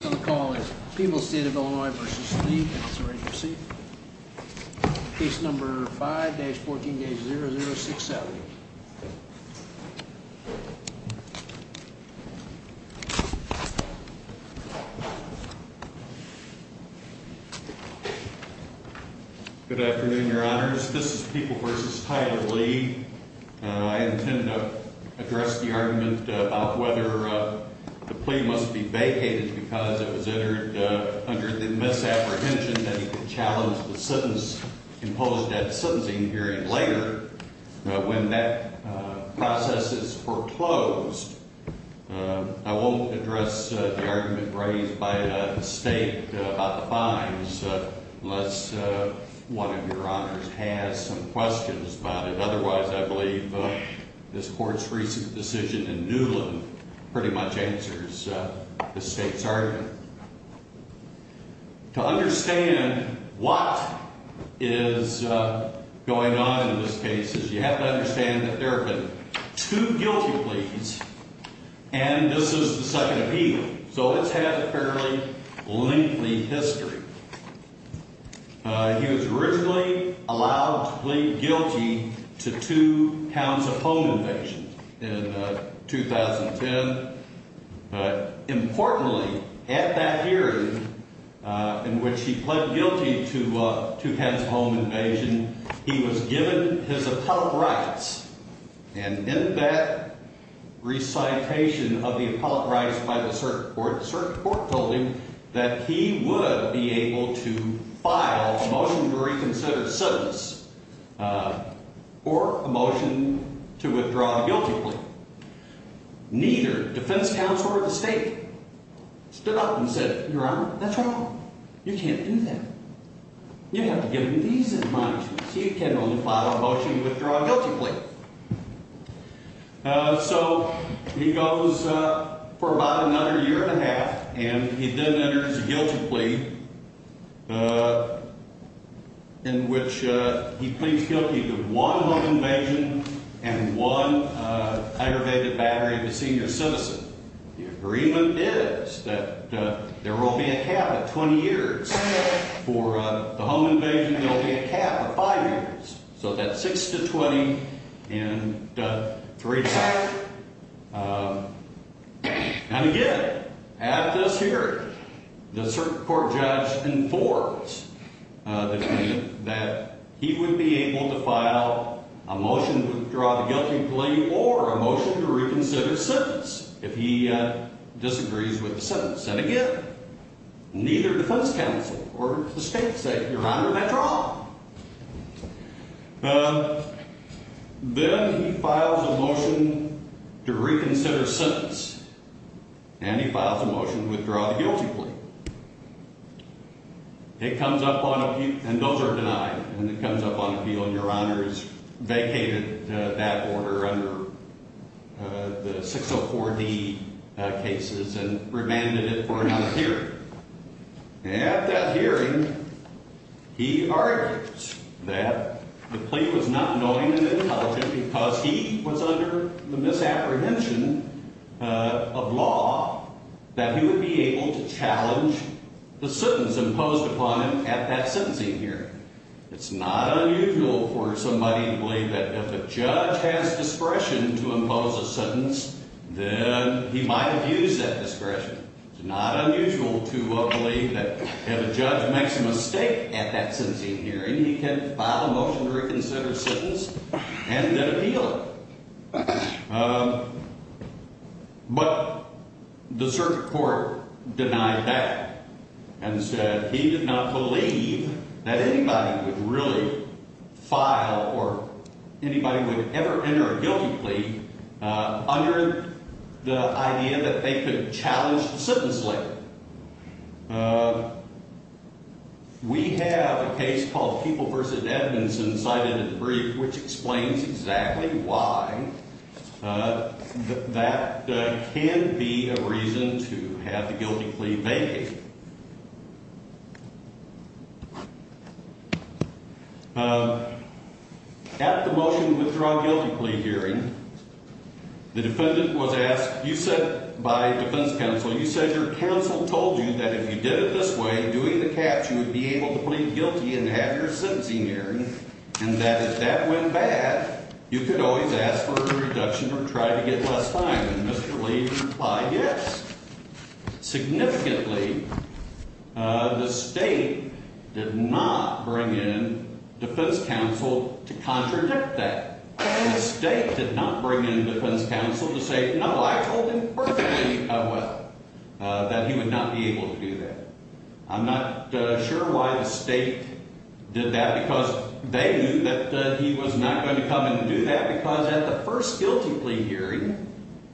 The call is People's State of Illinois v. Lee. Councilor, are you ready to proceed? Case number 5-14-0067. Good afternoon, Your Honors. This is People v. Tyler Lee. I intend to address the argument about whether the plea must be vacated because it was entered under the misapprehension that he could challenge the sentence imposed at the sentencing hearing later when that process is foreclosed. I won't address the argument raised by the State about the fines unless one of Your Honors has some questions about it. That pretty much answers the State's argument. To understand what is going on in this case, you have to understand that there have been two guilty pleas and this is the second appeal. So it's had a fairly lengthy history. He was originally allowed to plead guilty to two counts of home invasion in 2010, but importantly, at that hearing in which he pled guilty to two counts of home invasion, he was given his appellate rights and in that recitation of the appellate rights by the circuit court, the circuit court told him that he would be able to file a motion to reconsider the sentence or a motion to withdraw the guilty plea. Neither defense counsel or the State stood up and said, Your Honor, that's wrong. You can't do that. You have to give him these admonishments. He can only file a motion to withdraw a guilty plea. So he goes for about another year and a half and he then enters a guilty plea in which he pleads guilty to one home invasion and one aggravated battery of a senior citizen. The agreement is that there will be a cap of 20 years. For the home invasion, there will be a cap of five years. So that's six to 20 and three to seven. And again, at this hearing, the circuit court judge informs the defendant that he would be able to file a motion to withdraw the guilty plea or a motion to reconsider his sentence if he disagrees with the sentence. And again, neither defense counsel or the State said, Your Honor, that's wrong. Then he files a motion to reconsider his sentence and he files a motion to withdraw the guilty plea. It comes up on appeal, and those are denied, and it comes up on appeal and Your Honor has vacated that order under the 604D cases and remanded it for another hearing. At that hearing, he argues that the plea was not annoying and intelligent because he was under the misapprehension of law that he would be able to challenge the sentence imposed upon him at that sentencing hearing. It's not unusual for somebody to believe that if a judge has discretion to impose a sentence, then he might have used that discretion. It's not unusual to believe that if a judge makes a mistake at that sentencing hearing, he can file a motion to reconsider his sentence and then appeal it. But the circuit court denied that and said he did not believe that anybody would really file or anybody would ever enter a guilty plea under the idea that they could challenge the sentence later. We have a case called People v. Edmondson cited in the brief, which explains exactly why that can be a reason to have the guilty plea vacated. At the motion to withdraw guilty plea hearing, the defendant was asked, you said by defense counsel, you said your counsel told you that if you did it this way, doing the catch, you would be able to plead guilty and have your sentencing hearing, and that if that went bad, you could always ask for a reduction or try to get less time. And Mr. Lee replied yes. Significantly, the State did not bring in defense counsel to contradict that. The State did not bring in defense counsel to say, no, I told him perfectly that he would not be able to do that. I'm not sure why the State did that because they knew that he was not going to come and do that because at the first guilty plea hearing,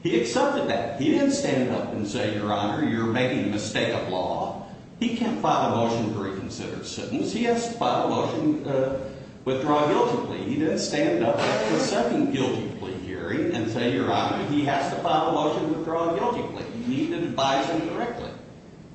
he accepted that. He didn't stand up and say, your Honor, you're making a mistake of law. He can't file a motion to reconsider a sentence. He has to file a motion to withdraw a guilty plea. He didn't stand up at the second guilty plea hearing and say, your Honor, he has to file a motion to withdraw a guilty plea. You need to advise him directly.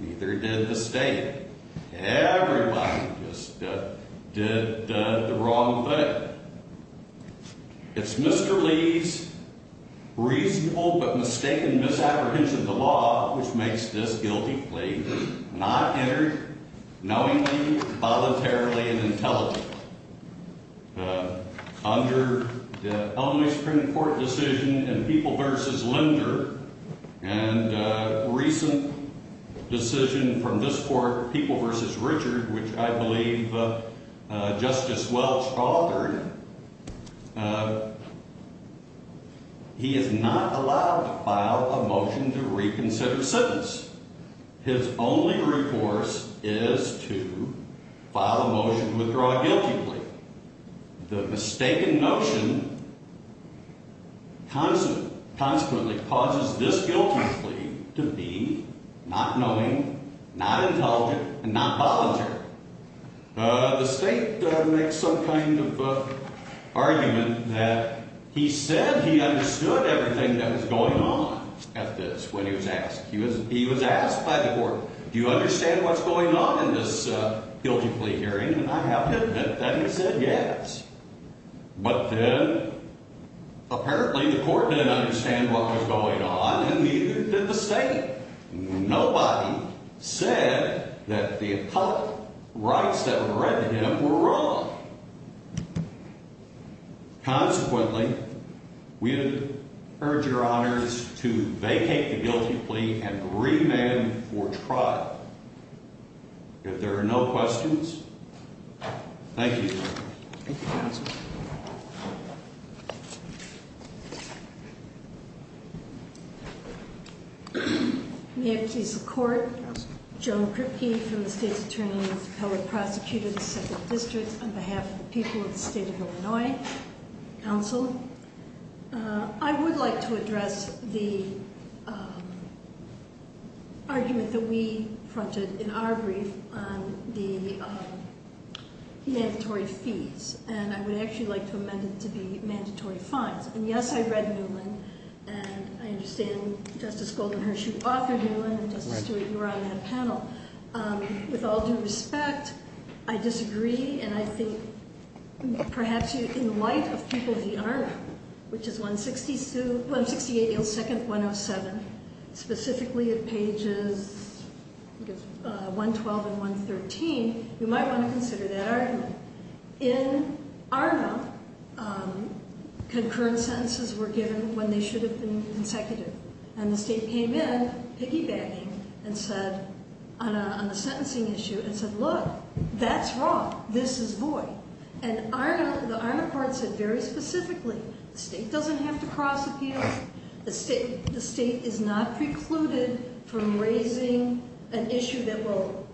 Neither did the State. Everybody just did the wrong thing. It's Mr. Lee's reasonable but mistaken misapprehension of the law which makes this guilty plea not entered knowingly, voluntarily, and intelligently. Under the only Supreme Court decision in People v. Linder and a recent decision from this Court, People v. Richard, which I believe Justice Welch authored, he is not allowed to file a motion to reconsider a sentence. His only recourse is to file a motion to withdraw a guilty plea. The mistaken notion consequently causes this guilty plea to be not knowing, not intelligent, and not voluntary. The State makes some kind of argument that he said he understood everything that was going on at this when he was asked. He was asked by the Court, do you understand what's going on in this guilty plea hearing? And I have him that he said yes. But then apparently the Court didn't understand what was going on and neither did the State. Nobody said that the appellate rights that were granted him were wrong. Consequently, we urge your Honors to vacate the guilty plea and remand for trial. If there are no questions, thank you. Thank you, Counsel. May I please the Court? Counsel. Joan Kripke from the State's Attorney's Appellate Prosecutor, the 2nd District, on behalf of the people of the State of Illinois. Counsel. I would like to address the argument that we fronted in our brief on the mandatory fees. And I would actually like to amend it to be mandatory fines. And yes, I read Newland, and I understand Justice Golden Hershey authored Newland, and Justice Stewart, you were on that panel. With all due respect, I disagree, and I think perhaps in the light of People v. Arna, which is 168-107, specifically at pages 112 and 113, you might want to consider that argument. In Arna, concurrent sentences were given when they should have been consecutive. And the State came in piggybacking on the sentencing issue and said, look, that's wrong. This is void. And the Arna court said very specifically, the State doesn't have to cross-appeal. The State is not precluded from raising an issue that will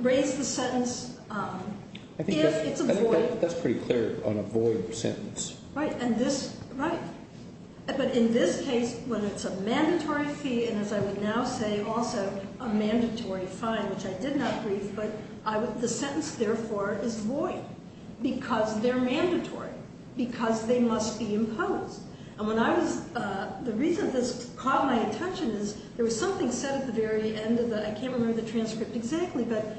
raise the sentence if it's a void. I think that's pretty clear on a void sentence. Right. But in this case, when it's a mandatory fee, and as I would now say also, a mandatory fine, which I did not brief, but the sentence therefore is void because they're mandatory, because they must be imposed. And the reason this caught my attention is there was something said at the very end of the, I can't remember the transcript exactly, but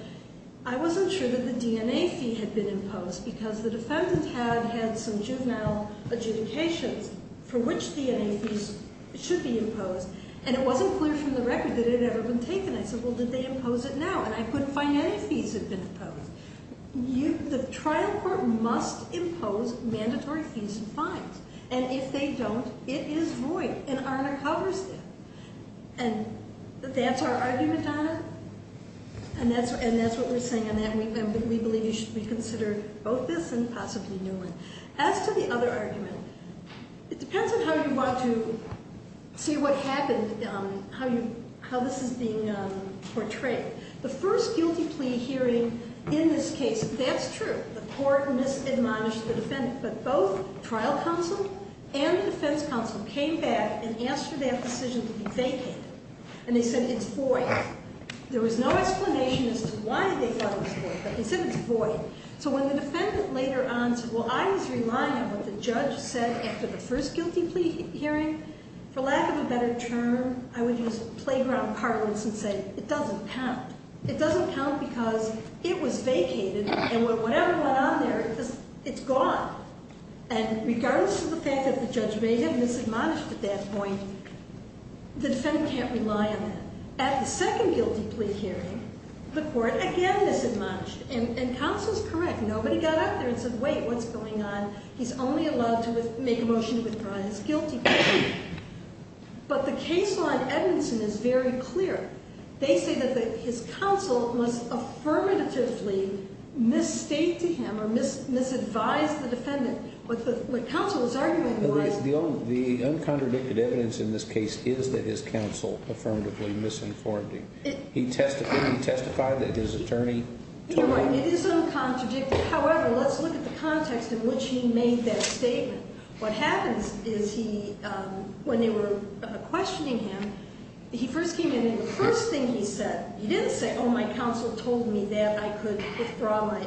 I wasn't sure that the DNA fee had been imposed because the defendant had had some juvenile adjudications for which DNA fees should be imposed. And it wasn't clear from the record that it had ever been taken. I said, well, did they impose it now? And I couldn't find any fees that had been imposed. The trial court must impose mandatory fees and fines. And if they don't, it is void. And that's our argument, Arna? And that's what we're saying. And we believe you should reconsider both this and possibly a new one. As to the other argument, it depends on how you want to see what happened, how this is being portrayed. The first guilty plea hearing in this case, that's true. The court misadmonished the defendant. But both trial counsel and defense counsel came back and answered that decision to be vacated. And they said it's void. There was no explanation as to why they thought it was void, but they said it's void. So when the defendant later on said, well, I was relying on what the judge said after the first guilty plea hearing, for lack of a better term, I would use playground parlance and say, it doesn't count. It doesn't count because it was vacated and whatever went on there, it's gone. And regardless of the fact that the judge may have misadmonished at that point, the defendant can't rely on that. At the second guilty plea hearing, the court again misadmonished. And counsel's correct. Nobody got up there and said, wait, what's going on? He's only allowed to make a motion to withdraw his guilty plea. But the case on Edmondson is very clear. They say that his counsel must affirmatively misstate to him or misadvise the defendant. What counsel was arguing was. The uncontradicted evidence in this case is that his counsel affirmatively misinformed him. He testified that his attorney told him. You're right. It is uncontradicted. However, let's look at the context in which he made that statement. What happens is he when they were questioning him, he first came in and the first thing he said. He didn't say, oh, my counsel told me that I could withdraw my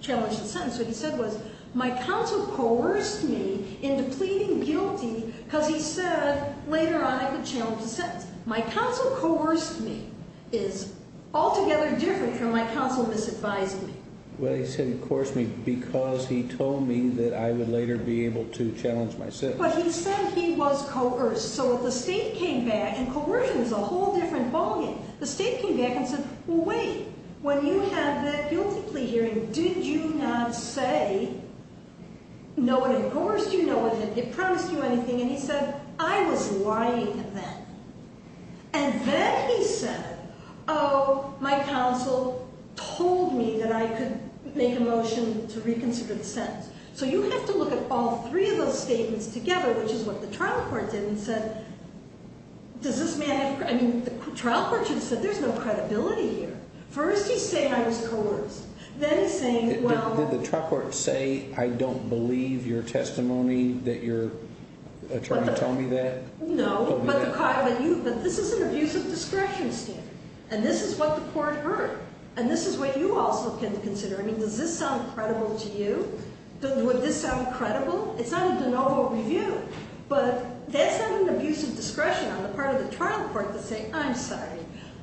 challenge and sentence. What he said was, my counsel coerced me into pleading guilty because he said later on I could challenge the sentence. My counsel coerced me is altogether different from my counsel misadvising me. Well, he said he coerced me because he told me that I would later be able to challenge my sentence. But he said he was coerced. So if the state came back, and coercion is a whole different ballgame. The state came back and said, well, wait. When you have that guilty plea hearing, did you not say, no, it coerced you, no, it promised you anything. And he said, I was lying then. And then he said, oh, my counsel told me that I could make a motion to reconsider the sentence. So you have to look at all three of those statements together, which is what the trial court did and said, does this matter? I mean, the trial court should have said, there's no credibility here. First he's saying I was coerced. Then he's saying, well. Did the trial court say, I don't believe your testimony that you're trying to tell me that? No, but this is an abuse of discretion standard. And this is what the court heard. And this is what you also can consider. I mean, does this sound credible to you? Would this sound credible? It's not a de novo review. But that's not an abuse of discretion on the part of the trial court to say, I'm sorry.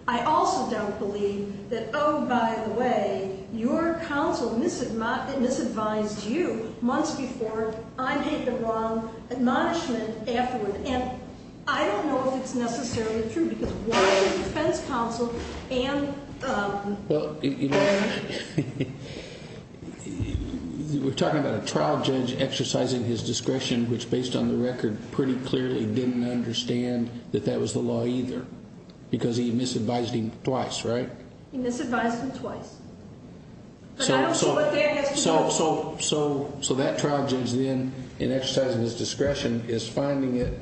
I also don't believe that, oh, by the way, your counsel misadvised you months before I made the wrong admonishment afterward. And I don't know if it's necessarily true. Because why did the defense counsel and- Well, you know, we're talking about a trial judge exercising his discretion, which based on the record pretty clearly didn't understand that that was the law either. Because he misadvised him twice, right? He misadvised him twice. But I don't see what that has to do- So that trial judge then, in exercising his discretion, is finding it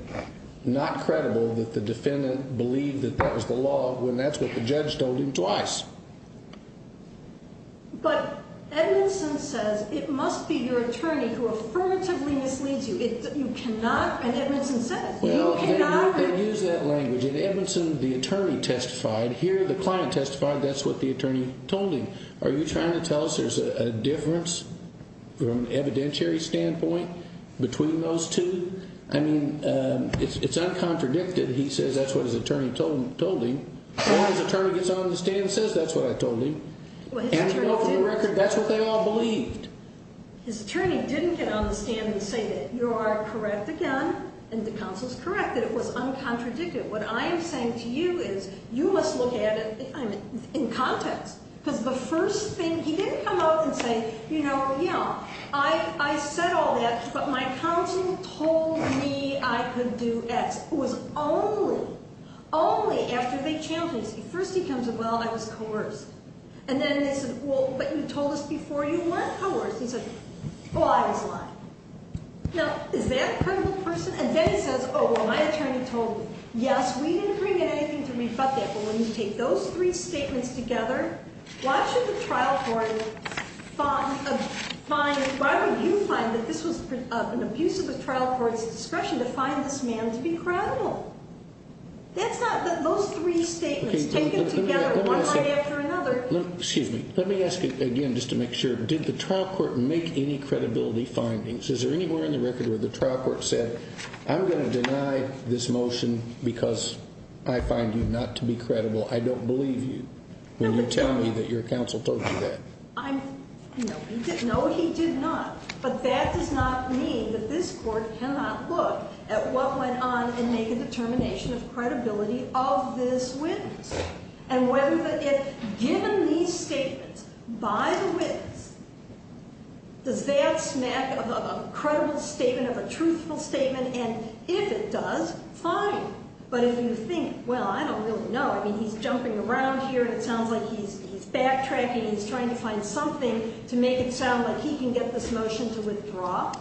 not credible that the defendant believed that that was the law, when that's what the judge told him twice. But Edmondson says it must be your attorney who affirmatively misleads you. You cannot, and Edmondson says, you cannot- Well, they use that language. And Edmondson, the attorney, testified. Here, the client testified. That's what the attorney told him. Are you trying to tell us there's a difference from an evidentiary standpoint between those two? I mean, it's uncontradicted. He says that's what his attorney told him. Or his attorney gets on the stand and says that's what I told him. And to go from the record, that's what they all believed. His attorney didn't get on the stand and say that you are correct again and the counsel is correct, that it was uncontradicted. What I am saying to you is you must look at it in context. Because the first thing, he didn't come out and say, you know, yeah, I said all that, but my counsel told me I could do X. It was only, only after they challenged me. First he comes up, well, I was coerced. And then they said, well, but you told us before you weren't coerced. He said, well, I was lying. Now, is that a credible person? And then he says, oh, well, my attorney told me. Yes, we didn't bring in anything to rebut that. Well, when you take those three statements together, why should the trial court find, why would you find that this was an abuse of the trial court's discretion to find this man to be credible? That's not, those three statements taken together one right after another. Excuse me. Let me ask you again just to make sure. Did the trial court make any credibility findings? Is there anywhere in the record where the trial court said, I'm going to deny this motion because I find you not to be credible. I don't believe you when you tell me that your counsel told you that. No, he did not. But that does not mean that this court cannot look at what went on and make a determination of credibility of this witness. And given these statements by the witness, does that smack of a credible statement, of a truthful statement? And if it does, fine. But if you think, well, I don't really know. I mean, he's jumping around here and it sounds like he's backtracking. He's trying to find something to make it sound like he can get this motion to withdraw.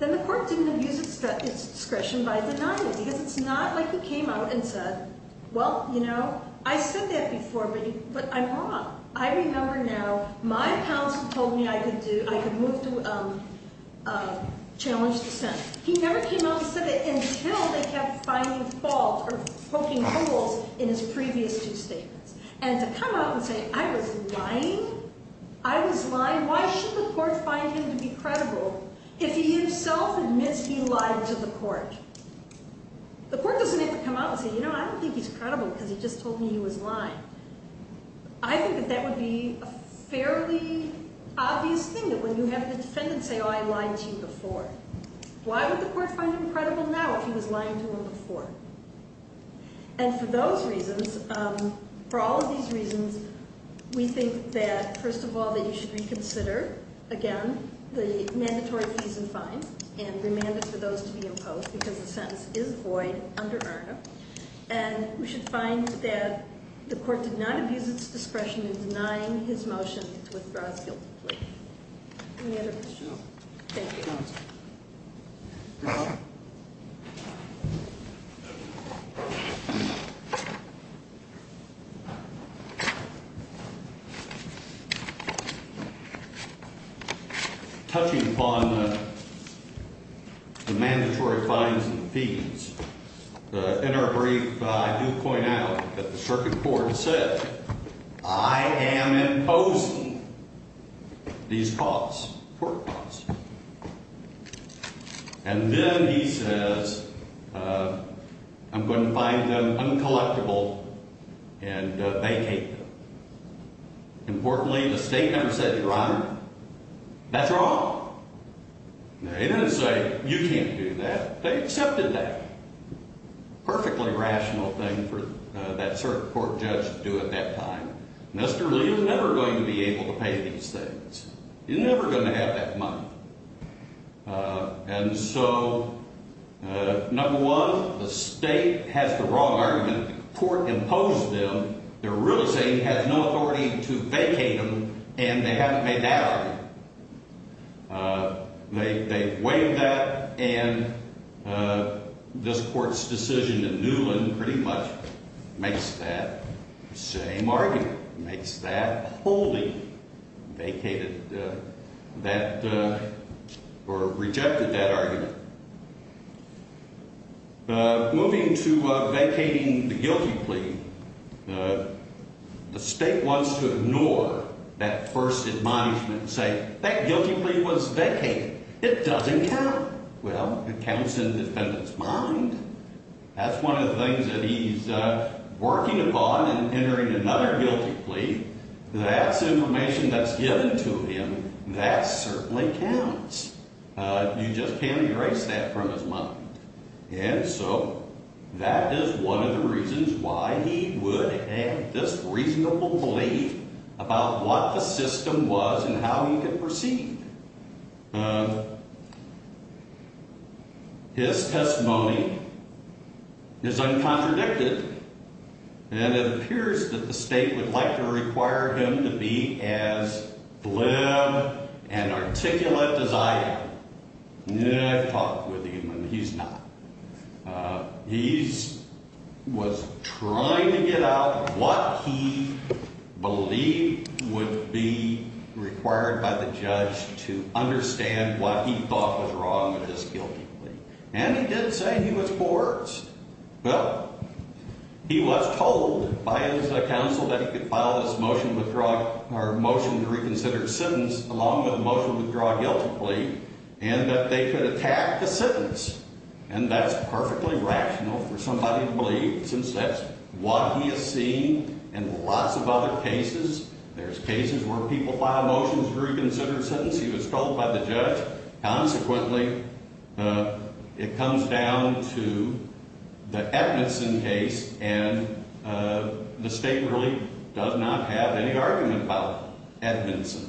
Then the court didn't abuse its discretion by denying it because it's not like it came out and said, well, you know, I said that before, but I'm wrong. I remember now my counsel told me I could move to challenge dissent. He never came out and said it until they kept finding faults or poking holes in his previous two statements. And to come out and say, I was lying? I was lying? Why should the court find him to be credible if he himself admits he lied to the court? The court doesn't have to come out and say, you know, I don't think he's credible because he just told me he was lying. I think that that would be a fairly obvious thing that when you have the defendant say, oh, I lied to you before. Why would the court find him credible now if he was lying to them before? And for those reasons, for all of these reasons, we think that, first of all, that you should reconsider, again, the mandatory fees and fines and remand it for those to be imposed because the sentence is void under ARDA. And we should find that the court did not abuse its discretion in denying his motion to withdraw his guilty plea. Any other questions? Thank you. Touching upon the mandatory fines and fees, in our brief, I do point out that the circuit court said, I am imposing these costs, court costs. And then he says, I'm going to find them uncollectible and vacate them. Importantly, the state never said, Your Honor, that's wrong. They didn't say, you can't do that. They accepted that. Perfectly rational thing for that circuit court judge to do at that time. Mr. Lee is never going to be able to pay these things. He's never going to have that money. And so, number one, the state has the wrong argument. When the court imposed them, they're really saying he has no authority to vacate them, and they haven't made that argument. They waived that, and this court's decision in Newland pretty much makes that same argument. It makes that wholly vacated that or rejected that argument. Moving to vacating the guilty plea, the state wants to ignore that first admonishment and say, That guilty plea was vacated. It doesn't count. Well, it counts in the defendant's mind. That's one of the things that he's working upon in entering another guilty plea. That's information that's given to him. That certainly counts. You just can't erase that from his mind. And so that is one of the reasons why he would have this reasonable belief about what the system was and how he could proceed. His testimony is uncontradicted, and it appears that the state would like to require him to be as flim and articulate as I am. I've talked with him, and he's not. He was trying to get out what he believed would be required by the judge to understand what he thought was wrong with this guilty plea. And he did say he was for it. Well, he was told by his counsel that he could file this motion to withdraw or motion to reconsider his sentence along with a motion to withdraw a guilty plea and that they could attack the sentence. And that's perfectly rational for somebody to believe since that's what he has seen in lots of other cases. There's cases where people file motions to reconsider a sentence. He was told by the judge. Consequently, it comes down to the Edmondson case, and the state really does not have any argument about Edmondson.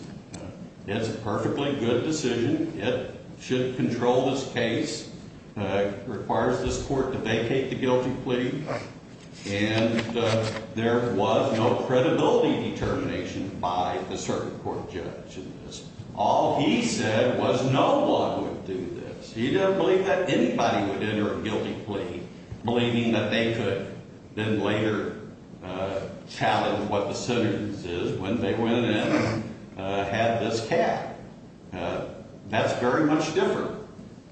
It's a perfectly good decision. It should control this case, requires this court to vacate the guilty plea, and there was no credibility determination by the circuit court judge in this. All he said was no one would do this. He didn't believe that anybody would enter a guilty plea, believing that they could then later challenge what the sentence is when they went in and had this cat. That's very much different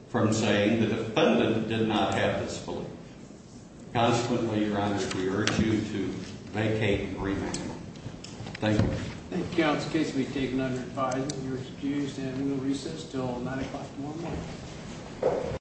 from saying the defendant did not have this belief. Consequently, Your Honor, we urge you to vacate the remand. Thank you. The counsel case will be taken under advisement. You're excused and will recess until 9 o'clock tomorrow morning.